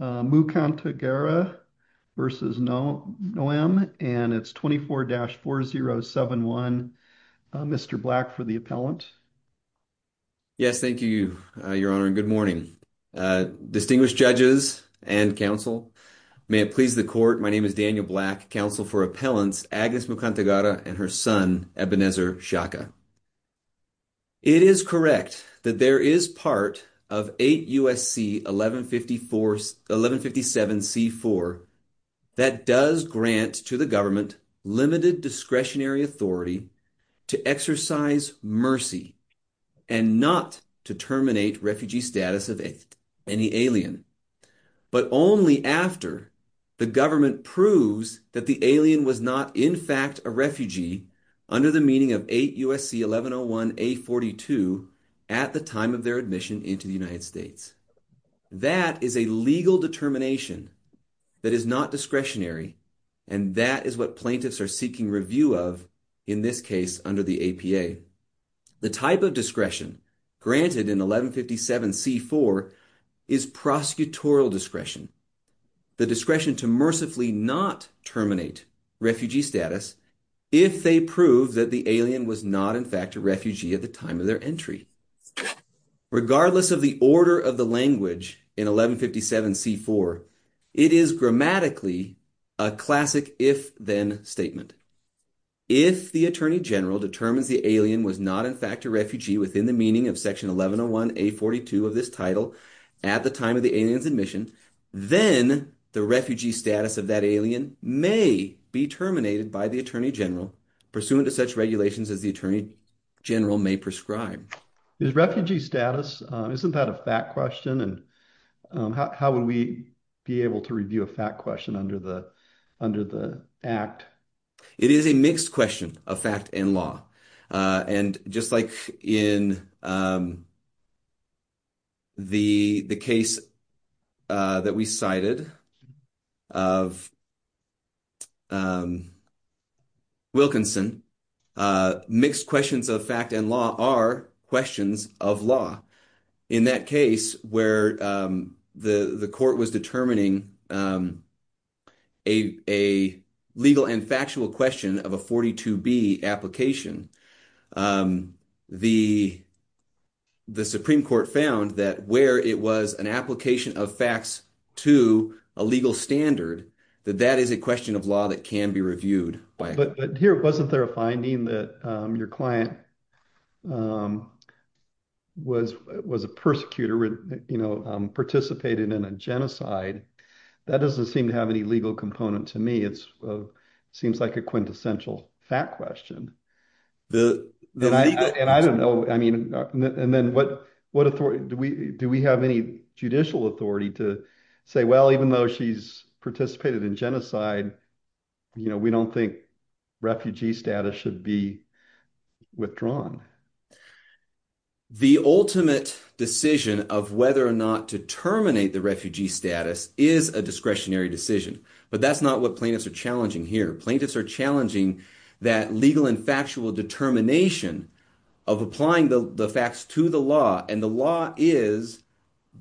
and it's 24-4071. Mr. Black for the appellant. Yes, thank you, your honor, and good morning. Distinguished judges and counsel, may it please the court, my name is Daniel Black, counsel for appellants Agnes Mukantagara and her son Ebenezer Shaka. It is correct that there is part of 8 U.S.C. 1157-C-4 that does grant to the government limited discretionary authority to exercise mercy and not to terminate refugee status of any alien, but only after the government proves that the alien was not in fact a refugee under the meaning of 8 U.S.C. 1101-A-42 at the time of their admission into the United States. That is a legal determination that is not discretionary and that is what plaintiffs are seeking review of in this case under the APA. The type of discretion granted in 1157-C-4 is prosecutorial discretion. The discretion to mercifully not terminate refugee status if they prove that the alien was not in fact a refugee at the time of their entry. Regardless of the order of the language in 1157-C-4, it is grammatically a classic if-then statement. If the attorney general determines the alien was not in fact a refugee within the meaning of section 1101-A-42 of this title at the time of the alien's admission, then the refugee status of that alien may be terminated by the attorney general pursuant to such regulations as the attorney general may prescribe. Is refugee status, isn't that a fact question and how would we be able to review a fact question under the act? It is a mixed question of fact and law. Just like in the case that we cited of Wilkinson, mixed questions of fact and law are questions of law. In that case where the court was determining a legal and factual question of a 42-B application, the Supreme Court found that where it was an application of facts to a legal standard, that that is a question of law that can be reviewed. Here, wasn't there a finding that your client was a persecutor, participated in a genocide? That doesn't seem to have any legal component to me. It seems like a quintessential fact question. Do we have any judicial authority to say, well, even though she's participated in genocide, we don't think refugee status should be withdrawn? The ultimate decision of whether or not to terminate the refugee status is a discretionary decision, but that's not what plaintiffs are challenging here. Plaintiffs are challenging that legal and factual determination of applying the facts to the law and the law is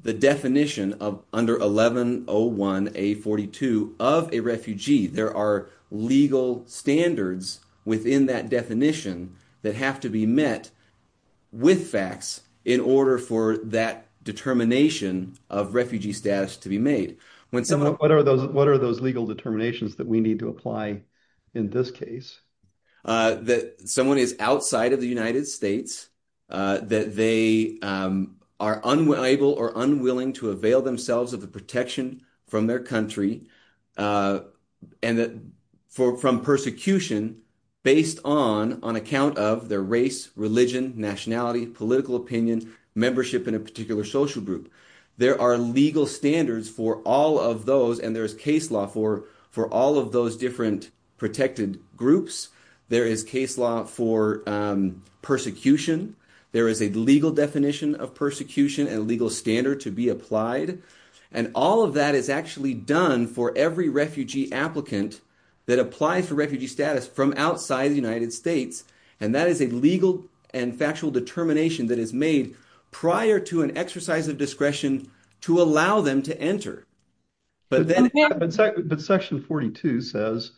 the definition of under 1101A42 of a refugee. There are legal standards within that definition that have to be met with facts in order for that determination of refugee status to be made. What are those legal determinations that we need to apply in this case? That someone is outside of the United States, that they are unable or unwilling to avail themselves of the protection from their country and from persecution based on account of their race, religion, nationality, political opinion, membership in a particular social group. There are legal standards for all of those and there's case law for all of those different protected groups. There is case law for persecution. There is a legal definition of persecution and legal standard to be applied. All of that is actually done for every refugee applicant that applies for refugee status from outside the United States. That is a legal and factual determination that is made prior to an exercise of discretion to allow them to enter. But section 42 says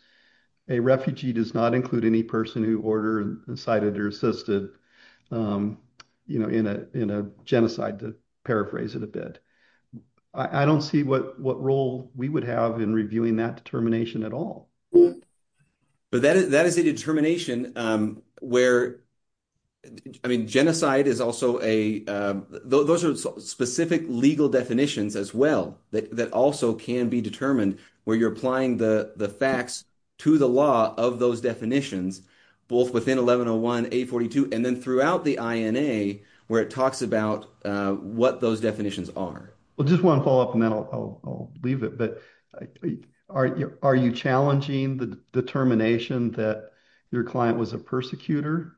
a refugee does not include any person who ordered, incited or assisted in a genocide, to paraphrase it a bit. I don't see what role we would have in reviewing that determination at all. But that is a determination where, I mean, genocide is also a, those are specific legal definitions as well that also can be determined where you're applying the facts to the law of those definitions both within 1101A42 and then throughout the INA where it talks about what those definitions are. Well, just one follow-up and then I'll leave it. But are you challenging the determination that your client was a persecutor?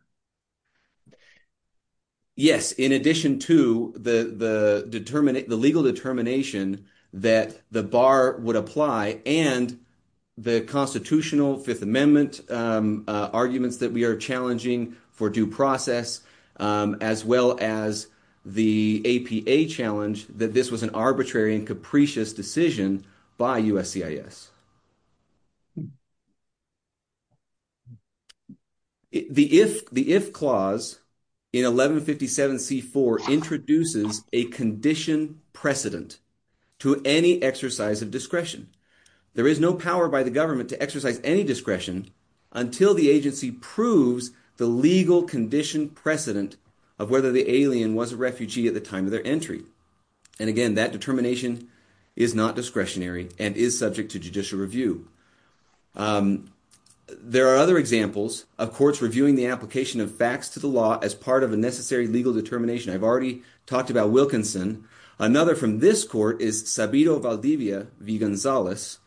Yes, in addition to the legal determination that the bar would apply and the Constitutional Fifth Amendment arguments that we are challenging for due process as well as the APA challenge that this was an arbitrary and capricious decision by USCIS. The IF Clause in 1157C4 introduces a condition precedent to any exercise of discretion. There is no power by the government to exercise any discretion until the agency proves the legal condition precedent of whether the alien was a refugee at the time of their entry. And again, that determination is not discretionary and is subject to judicial review. There are other examples of courts reviewing the application of facts to the law as part of a necessary legal determination. I've already talked about Wilkinson. Another from this court is Sabido Valdivia v. Gonzalez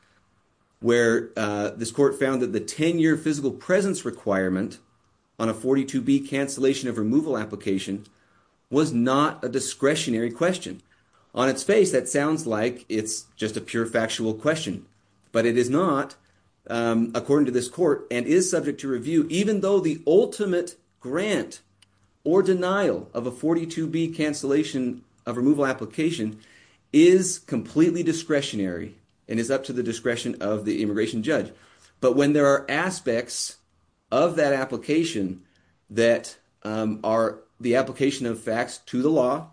where this court found that the 10-year physical presence requirement on a 42B cancellation of removal application was not a discretionary question. On its face, that sounds like it's just a pure factual question, but it is not according to this court and is subject to review even though the ultimate grant or denial of a 42B cancellation of removal application is completely discretionary and is up to the discretion of the immigration judge. But when there are aspects of that application that are the application of facts to the law,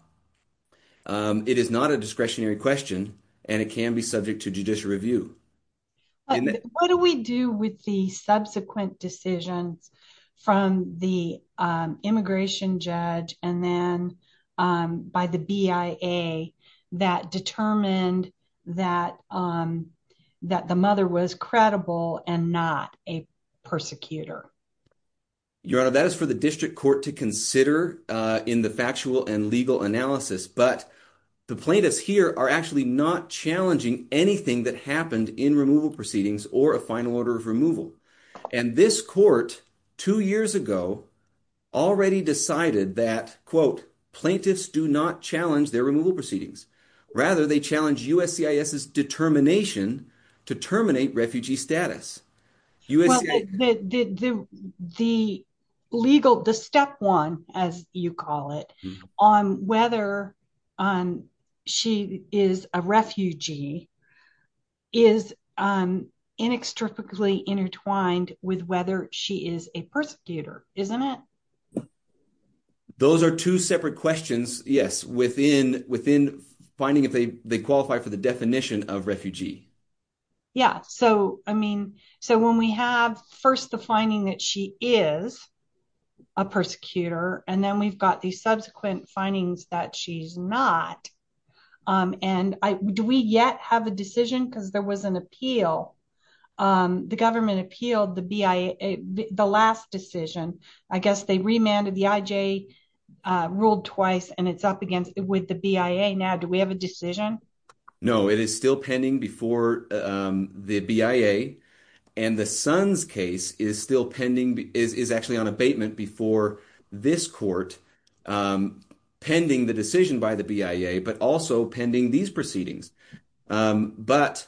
it is not a discretionary question and it can be subject to judicial review. What do we do with the subsequent decisions from the immigration judge and then by the BIA that determined that the mother was credible and not a persecutor? Your Honor, that is for the district court to consider in the factual and legal analysis. But the plaintiffs here are actually not challenging anything that happened in removal proceedings or a final order of removal. And this court two years ago already decided that, quote, plaintiffs do not challenge their removal proceedings. Rather, they challenge USCIS's determination to terminate refugee status. The legal, the step one, as you call it, on whether she is a refugee is inextricably intertwined with whether she is a persecutor, isn't it? Those are two separate questions, yes, within finding if they qualify for the definition of refugee. Yeah. So, I mean, so when we have first the finding that she is a persecutor and then we've got these subsequent findings that she's not. And do we yet have a decision? Because there was an appeal. The government appealed the BIA, the last decision. I guess they remanded the IJ, ruled twice and it's up against with the BIA. Now, do we have a decision? No, it is still pending before the BIA. And the son's case is still pending, is actually on abatement before this court, pending the decision by the BIA, but also pending these proceedings. But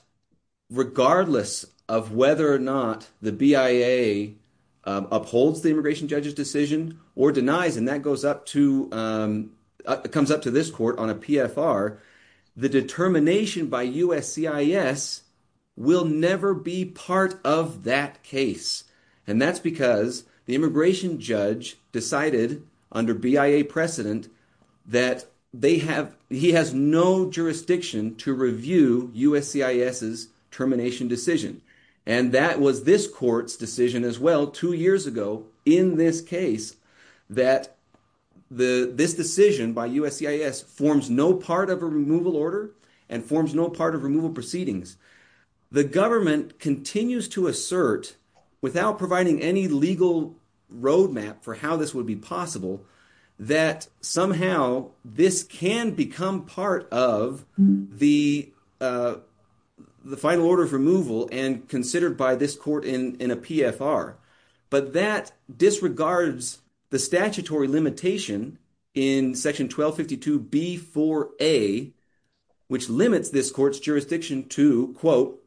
regardless of whether or not the BIA upholds the immigration judge's decision or denies, and that goes up to, comes up to this court on a PFR, the determination by USCIS will never be part of that case. And that's because the immigration judge decided under BIA precedent that they have, he has no jurisdiction to review USCIS's termination decision. And that was this court's decision as well, two years ago in this case, that the, this decision by USCIS forms no part of a removal order and forms no part of removal proceedings. The government continues to assert without providing any legal roadmap for how this would be possible, that somehow this can become part of the final order of removal and considered by this court in a PFR, but that disregards the statutory limitation in section 1252B4A, which limits this court's quote,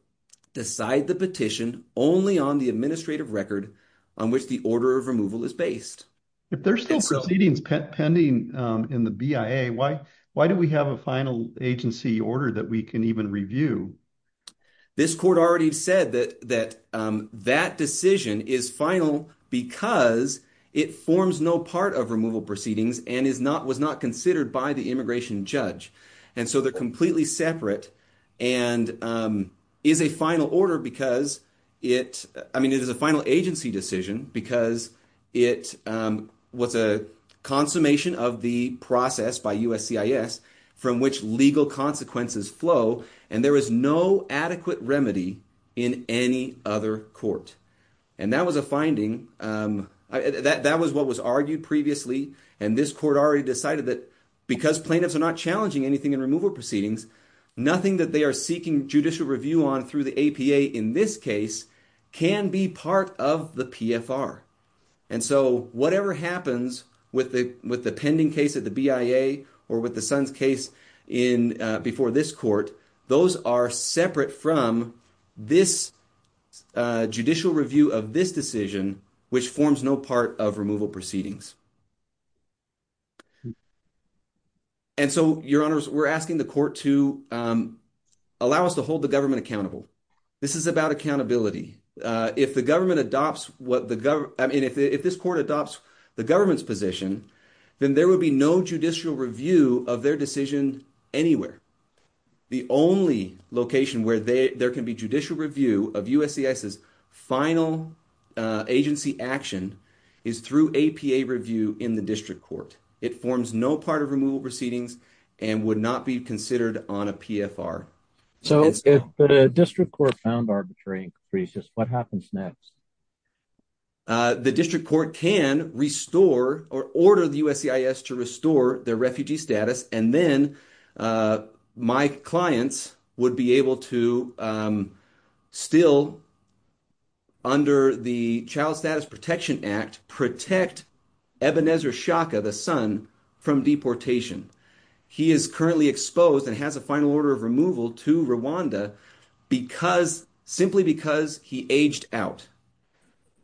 decide the petition only on the administrative record on which the order of removal is based. If there's still proceedings pending in the BIA, why do we have a final agency order that we can even review? This court already said that that decision is final because it forms no part of removal proceedings and is not, was not considered by the immigration judge. And so they're completely separate and is a final order because it, I mean, it is a final agency decision because it was a consummation of the process by USCIS from which legal consequences flow. And there was no adequate remedy in any other court. And that was a finding. That was what was argued previously. And this court already decided that because plaintiffs are not challenging anything in removal proceedings, nothing that they are seeking judicial review on through the APA in this case can be part of the PFR. And so whatever happens with the, with the pending case at the BIA or with the son's case in, before this court, those are separate from this judicial review of this decision, which forms no part of removal proceedings. And so your honors, we're asking the court to allow us to hold the government accountable. This is about accountability. If the government adopts what the government, I mean, if this court adopts the government's position, then there would be no judicial review of their decision anywhere. The only location where there can be judicial review of USCIS final agency action is through APA in the district court. It forms no part of removal proceedings and would not be considered on a PFR. So if the district court found arbitrary increases, what happens next? The district court can restore or order the USCIS to restore their refugee status. And then my clients would be able to still under the child status protection act, protect the son from deportation. He is currently exposed and has a final order of removal to Rwanda because simply because he aged out,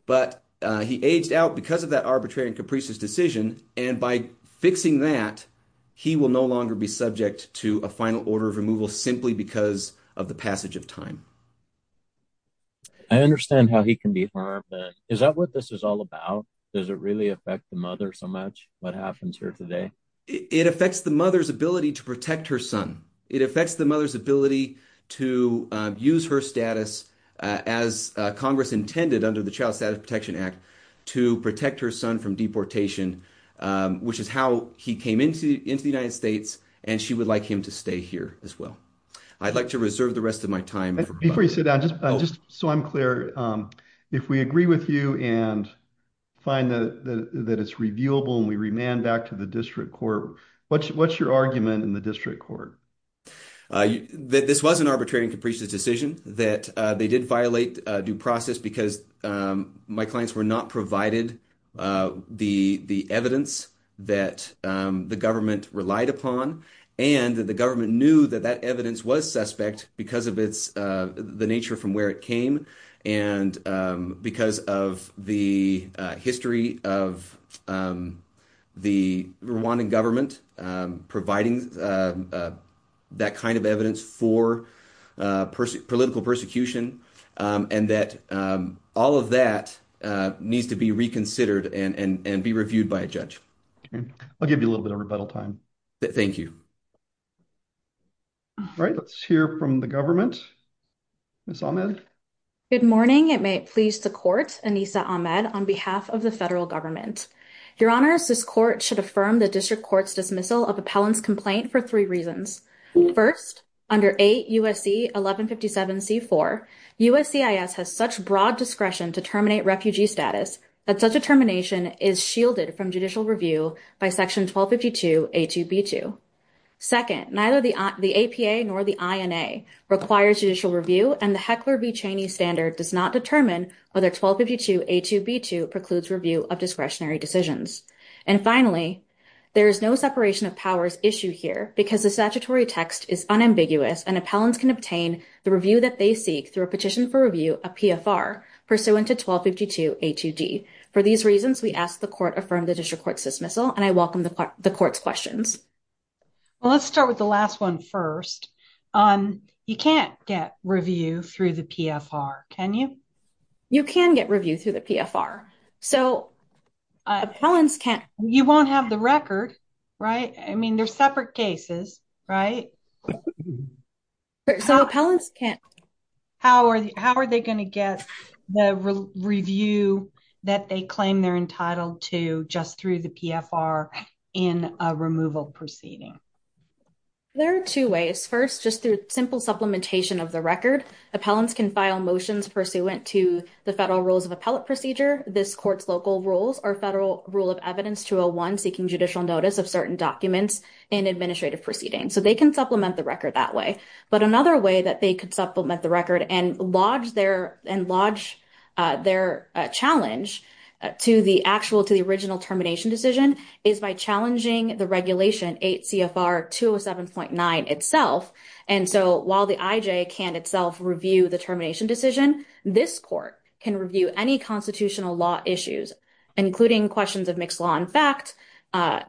but he aged out because of that arbitrary and capricious decision. And by fixing that, he will no longer be subject to a final order of removal simply because of the passage of time. I understand how he can be harmed. Is that what this is all about? Does it really affect the mother so much? What happens here today? It affects the mother's ability to protect her son. It affects the mother's ability to use her status as a Congress intended under the child status protection act to protect her son from deportation, which is how he came into the United States. And she would like him to stay here as well. I'd like to reserve the rest of my time. Before you say that, just so I'm clear, if we with you and find that it's reviewable and we remand back to the district court, what's your argument in the district court? This was an arbitrary and capricious decision that they did violate due process because my clients were not provided the evidence that the government relied upon. And the government knew that that evidence was suspect because of the nature from where it came. And because of the history of the Rwandan government providing that kind of evidence for political persecution. And that all of that needs to be reconsidered and be reviewed by a judge. I'll give you a little bit of rebuttal time. Thank you. All right. Let's hear from the Ms. Ahmed. Good morning. It may please the court, Anisa Ahmed, on behalf of the federal government. Your honors, this court should affirm the district court's dismissal of appellant's complaint for three reasons. First, under 8 U.S.C. 1157C4, USCIS has such broad discretion to terminate refugee status that such a termination is shielded from judicial review by section 1252 A2B2. Second, neither the APA nor the INA requires judicial review and the Heckler v. Cheney standard does not determine whether 1252 A2B2 precludes review of discretionary decisions. And finally, there is no separation of powers issue here because the statutory text is unambiguous and appellants can obtain the review that they seek through a petition for review of PFR pursuant to 1252 A2D. For these reasons, we ask the court affirm the district court's dismissal and I welcome the court's questions. Well, let's start with the last one first. You can't get review through the PFR, can you? You can get review through the PFR. So, you won't have the record, right? I mean, they're separate cases, right? So, appellants can't. How are they going to get the review that they claim they're entitled to just through the PFR in a removal proceeding? There are two ways. First, just through simple supplementation of the record. Appellants can file motions pursuant to the federal rules of appellate procedure. This court's local rules are federal rule of evidence 201 seeking judicial notice of certain documents in administrative proceedings. So, they can supplement the record that way. But another way that they could supplement the record and lodge their challenge to the actual to the original termination decision is by challenging the regulation 8 CFR 207.9 itself. And so, while the IJ can itself review the termination decision, this court can review any constitutional law issues, including questions of mixed law and fact under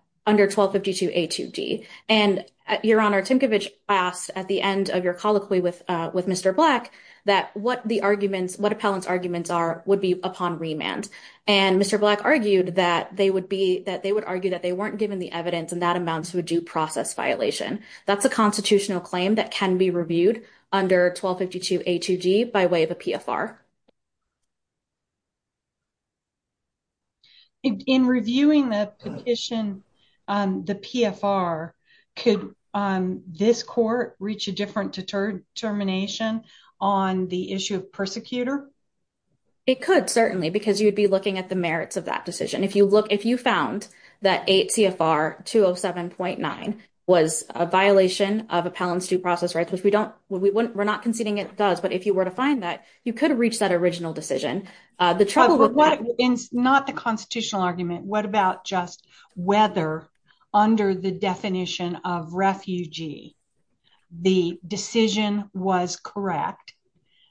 1252 A2D. And, Your Honor, Timkovich asked at the end of your colloquy with Mr. Black that what the arguments, what appellant's arguments are would be upon remand. And Mr. Black argued that they would be, that they would argue that they weren't given the evidence and that amounts to a due process violation. That's a constitutional claim that can be reviewed under 1252 A2D by way of a PFR. In reviewing the petition, the PFR, could this court reach a different determination on the issue of persecutor? It could, certainly, because you'd be looking at the merits of that decision. If you look, if you found that 8 CFR 207.9 was a violation of appellant's due process rights, which we don't, we wouldn't, we're not conceding it does, but if you were to find that, you could reach that original decision. The trouble with that... Not the constitutional argument, what about just whether under the definition of refugee, the decision was correct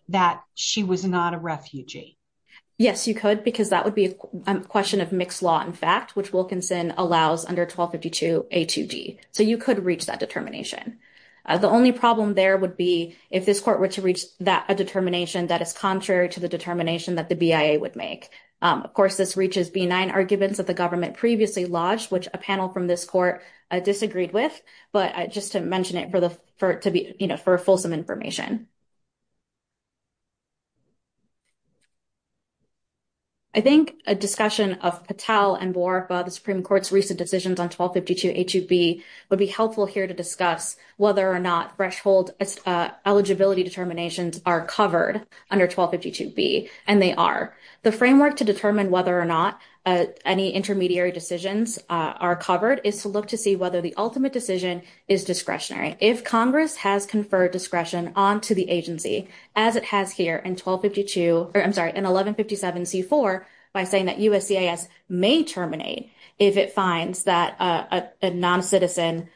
that she was not a refugee? Yes, you could, because that would be a question of mixed law, in fact, which Wilkinson allows under 1252 A2G. So you could reach that determination. The only problem there would be if this court were to reach that determination that is contrary to the determination that the the government previously lodged, which a panel from this court disagreed with, but just to mention it for the, for it to be, you know, for fulsome information. I think a discussion of Patel and Buarqua, the Supreme Court's recent decisions on 1252 A2B would be helpful here to discuss whether or not threshold eligibility determinations are covered under 1252 B, and they are. The framework to determine whether or not any intermediary decisions are covered is to look to see whether the ultimate decision is discretionary. If Congress has conferred discretion onto the agency, as it has here in 1252, or I'm sorry, in 1157 C4, by saying that USCIS may terminate if it finds that a non-citizen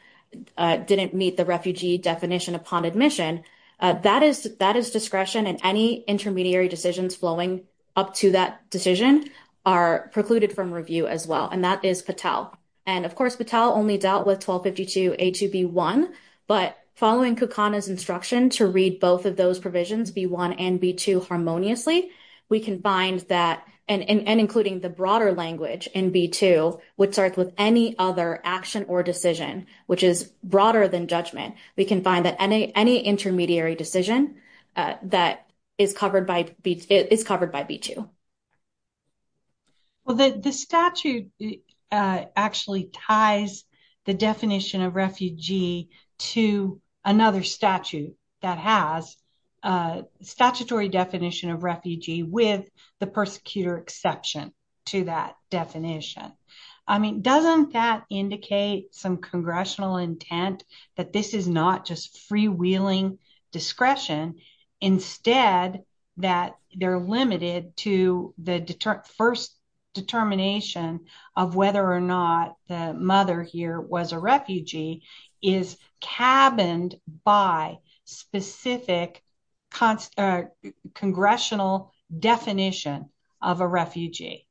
didn't meet the refugee definition upon admission, that is, that is discretion, and any intermediary decisions flowing up to that decision are precluded from review as well, and that is Patel. And of course, Patel only dealt with 1252 A2B1, but following Kukana's instruction to read both of those provisions, B1 and B2, harmoniously, we can bind that, and including the broader language in B2, which starts with any other action or decision, which is broader than judgment, we can find that any intermediary decision that is covered by B2. Well, the statute actually ties the definition of refugee to another statute that has a statutory definition of refugee with the persecutor exception to that definition. I mean, doesn't that indicate some congressional intent that this is not just freewheeling discretion, instead that they're limited to the first determination of whether or not the mother here was a refugee is cabined by specific congressional definition of a refugee?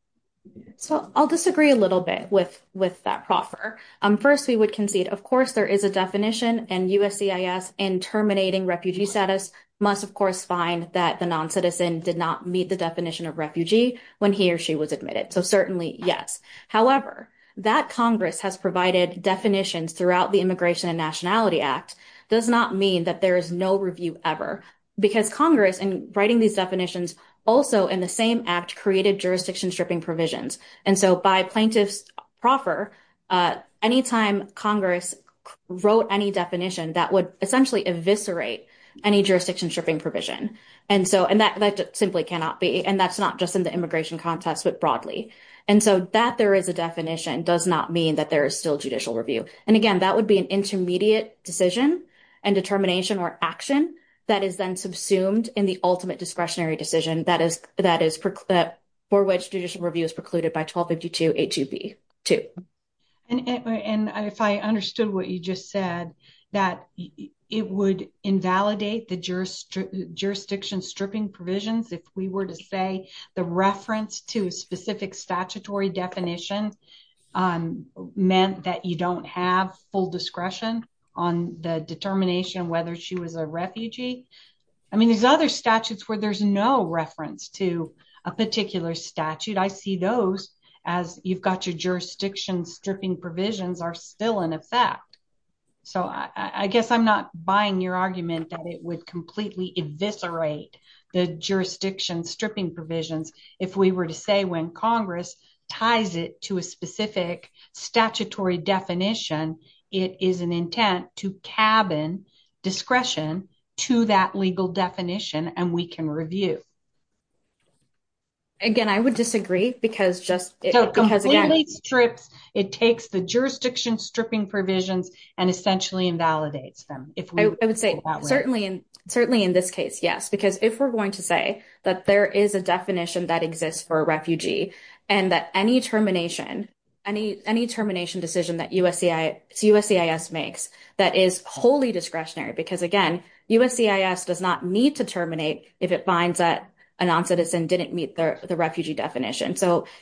So I'll disagree a little bit with that proffer. First, we would concede, of course, there is a definition, and USCIS, in terminating refugee status, must, of course, find that the non-citizen did not meet the definition of refugee when he or she was admitted. So certainly, yes. However, that Congress has provided definitions throughout the Immigration and Nationality Act does not mean that there is no review ever, because Congress, in writing these definitions, also, in the same act, created jurisdiction stripping provisions. And so by plaintiff's proffer, any time Congress wrote any definition, that would essentially eviscerate any jurisdiction stripping provision. And that simply cannot be, and that's not just in the immigration context, but broadly. And so that there is a definition does not mean that there is still judicial review. And again, that would be an intermediate decision and determination or action that is then subsumed in the ultimate discretionary decision for which judicial review is precluded by 1252A2B2. And if I understood what you just said, that it would invalidate the jurisdiction stripping provisions if we were to say the reference to a specific statutory definition meant that you don't have full discretion on the determination of whether she was a refugee. I mean, there's other statutes where there's no reference to a particular statute. I see those as you've got your jurisdiction stripping provisions are still in effect. So I guess I'm not buying your argument that it would completely eviscerate the jurisdiction stripping provisions if we were to say when Congress ties it to a specific statutory definition, it is an intent to cabin discretion to that legal definition and we can review. Again, I would disagree because just because it completely strips, it takes the jurisdiction stripping provisions and essentially invalidates them. I would say certainly in this case, yes, because if we're going to say that there is a definition that exists for a refugee and that any termination decision that USCIS makes that is wholly discretionary, because again, USCIS does not need to terminate if it finds that a non-citizen didn't meet the refugee definition.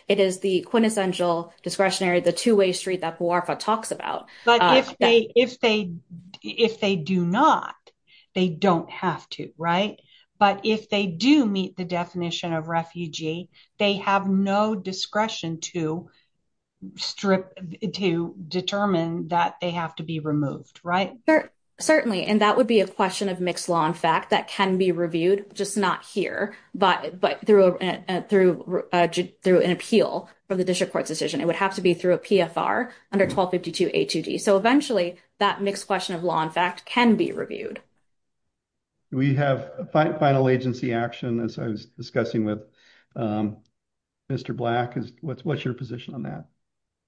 It is the quintessential discretionary, the two-way street that Puarfa talks about. But if they do not, they don't have to, right? But if they do meet the definition of refugee, they have no discretion to determine that they have to be removed, right? Certainly, and that would be a question of mixed law in fact that can be reviewed, just not here, but through an appeal for the district court's decision. It would have to be through a PFR under 1252 A2D. So eventually, that mixed question of law in fact can be reviewed. We have a final agency action as I was discussing with Mr. Black. What's your position on that?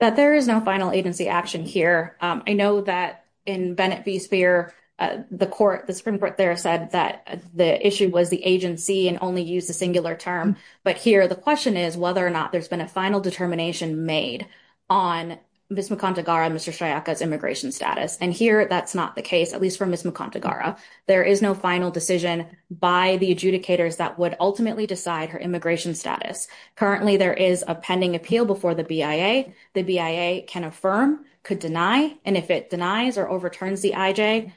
That there is no final agency action here. I know that in Bennett v. Speer, the Supreme Court there said that the issue was the agency and only used the singular term. But here, the question is whether or not there's been a final determination made on Ms. McOntegara and Mr. Sciocca's immigration status. And here, that's not the case, at least for Ms. McOntegara. There is no final decision by the adjudicators that would ultimately decide her immigration status. Currently, there is a pending appeal before the BIA. The BIA can affirm, could deny, and if it denies or returns the IJ,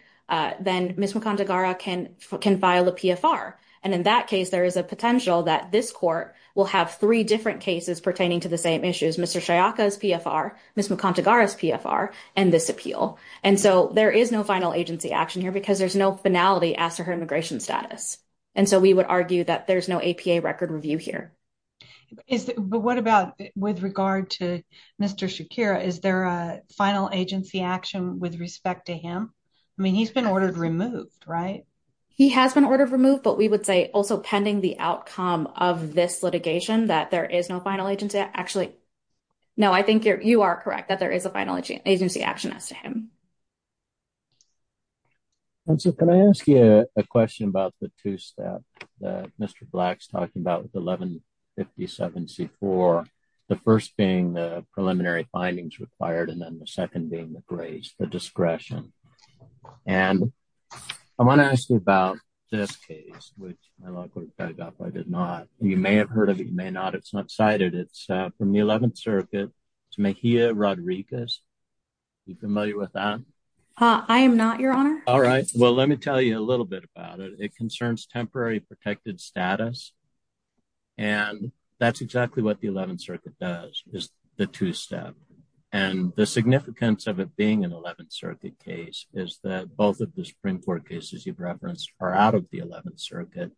then Ms. McOntegara can file a PFR. And in that case, there is a potential that this court will have three different cases pertaining to the same issues, Mr. Sciocca's PFR, Ms. McOntegara's PFR, and this appeal. And so there is no final agency action here because there's no finality as to her immigration status. And so we would argue that there's no APA record review here. But what about with regard to Mr. Shakira? Is there a final agency action with respect to him? I mean, he's been ordered removed, right? He has been ordered removed, but we would say also pending the outcome of this litigation that there is no final agency actually. No, I think you are correct that there is a final agency action as to him. And so can I ask you a question about the two staff that Mr. Black's talking about with 1157C4, the first being the preliminary findings required, and then the second being the grace, the discretion. And I want to ask you about this case, which my law clerk dug up. I did not. You may have heard of it. You may not. It's not cited. It's from the 11th Circuit. It's Mejia Rodriguez. Are you familiar with that? I am not, Your Honor. All right. Well, let me tell you a little bit about it. It concerns temporary protected status. And that's exactly what the 11th Circuit does, is the two-step. And the significance of it being an 11th Circuit case is that both of the Supreme Court cases you've referenced are out of the 11th Circuit.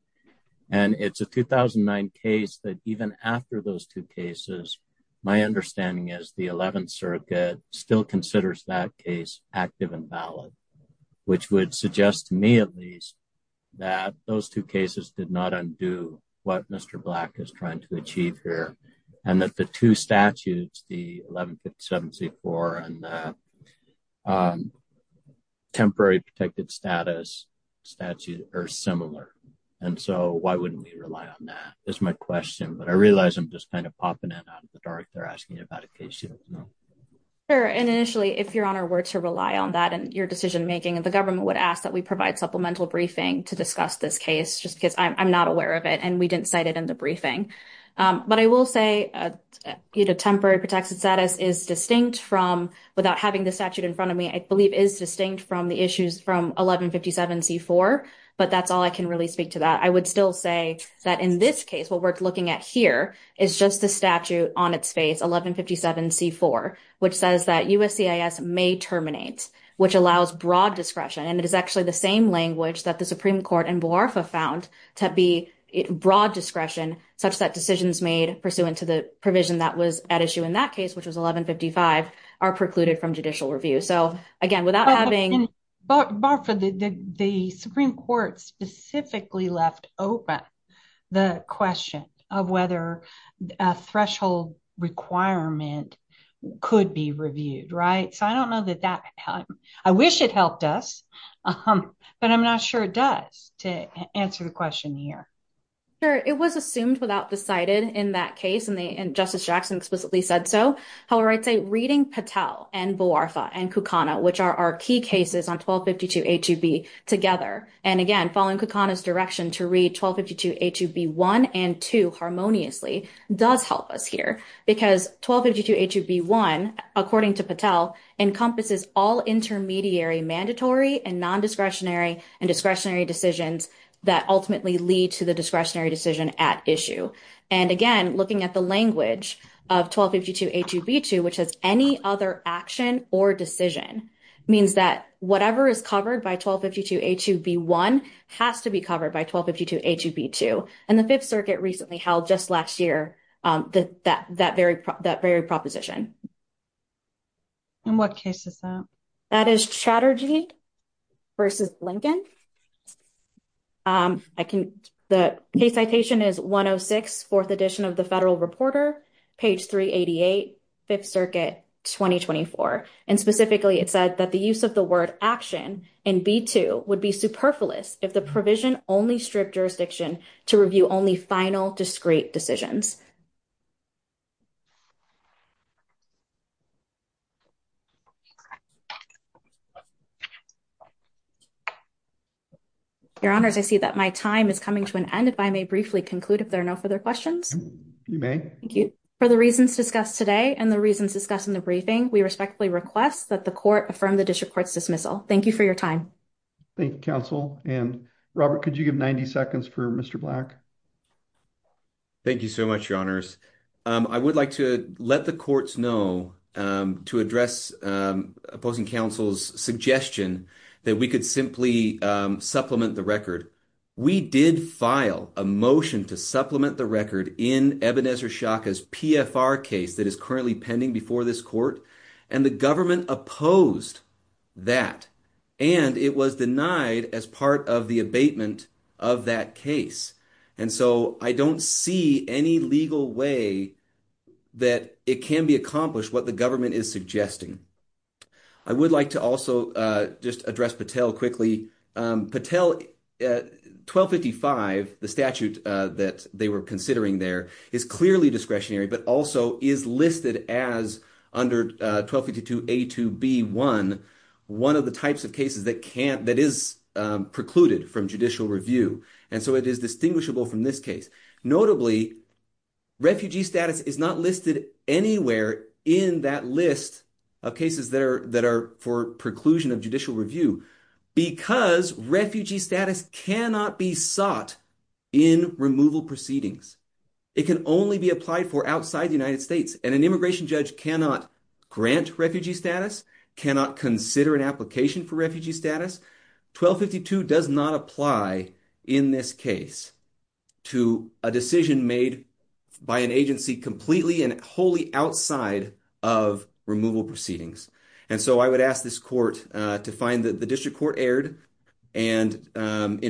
And it's a 2009 case that even after those two cases, my understanding is the 11th Circuit still considers that case active and valid, which would suggest to me at least that those two cases did not undo what Mr. Black is trying to achieve here, and that the two statutes, the 1157C4 and the temporary protected status statute are similar. And so why wouldn't we rely on that? That's my question. But I realize I'm just kind of popping it out of the dark there, asking about a case you don't know. Sure. And initially, if Your Honor were to rely on that in your decision-making, the government would ask we provide supplemental briefing to discuss this case, just because I'm not aware of it, and we didn't cite it in the briefing. But I will say temporary protected status is distinct from, without having the statute in front of me, I believe is distinct from the issues from 1157C4. But that's all I can really speak to that. I would still say that in this case, what we're looking at here is just the statute on its face, 1157C4, which says that USCIS may terminate, which allows broad discretion. And it is actually the same language that the Supreme Court and BOARFA found to be broad discretion, such that decisions made pursuant to the provision that was at issue in that case, which was 1155, are precluded from judicial review. So again, without having... But BOARFA, the Supreme Court specifically left open the question of whether a threshold requirement could be reviewed, right? So I don't know that that... I wish it helped us, but I'm not sure it does, to answer the question here. Sure. It was assumed without the cited in that case, and Justice Jackson explicitly said so. However, I'd say reading Patel and BOARFA and Kucana, which are our key cases on 1252A2B together, and again, following Kucana's direction to read 1252A2B1 and 2 harmoniously, does help us here. Because 1252A2B1, according to Patel, encompasses all intermediary mandatory and non-discretionary and discretionary decisions that ultimately lead to the discretionary decision at issue. And again, looking at the language of 1252A2B2, which has any other action or decision, means that whatever is covered by 1252A2B1 has to be covered by 1252A2B2. And the Fifth Circuit recently held just last year that very proposition. And what case is that? That is Chatterjee v. Lincoln. The case citation is 106, 4th edition of the Federal Reporter, page 388, Fifth Circuit, 2024. And specifically, it said that the use of the word action in B2 would be superfluous if the provision only stripped jurisdiction to review only final discrete decisions. Your Honors, I see that my time is coming to an end. If I may briefly conclude if there are no further questions. You may. Thank you. For the reasons discussed today and the reasons discussed in the briefing, we respectfully request that the Court affirm the District Court's dismissal. Thank you for your time. Thank you, Counsel. And Robert, could you give 90 seconds for Mr. Black? Thank you so much, Your Honors. I would like to let the Courts know to address opposing Counsel's suggestion that we could simply supplement the record. We did file a motion to supplement the record in Ebenezer Shaka's PFR case that is currently pending before this Court. And the government opposed that. And it was denied as part of the abatement of that case. And so, I don't see any legal way that it can be accomplished what the government is suggesting. I would like to also just address Patel quickly. Patel, 1255, the statute that they were considering there, is clearly discretionary, but also is listed as under 1252A2B1, one of the types of cases that is precluded from judicial review. And so, it is distinguishable from this case. Notably, refugee status is not listed anywhere in that list of cases that are for preclusion of judicial review because refugee status cannot be sought in removal proceedings. It can only be applied for outside the United States. And an immigration judge cannot grant refugee status, cannot consider an application for refugee status. 1252 does not apply in this case to a decision made by an agency completely and wholly outside of removal proceedings. And so, I would ask this Court to find that the district court erred in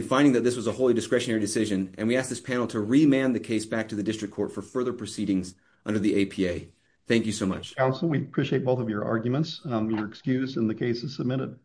finding that this was a wholly discretionary decision. And we ask this panel to remand the case back to the district court for further proceedings under the APA. Thank you so much. Counsel, we appreciate both of your arguments. You're excused and the case is submitted.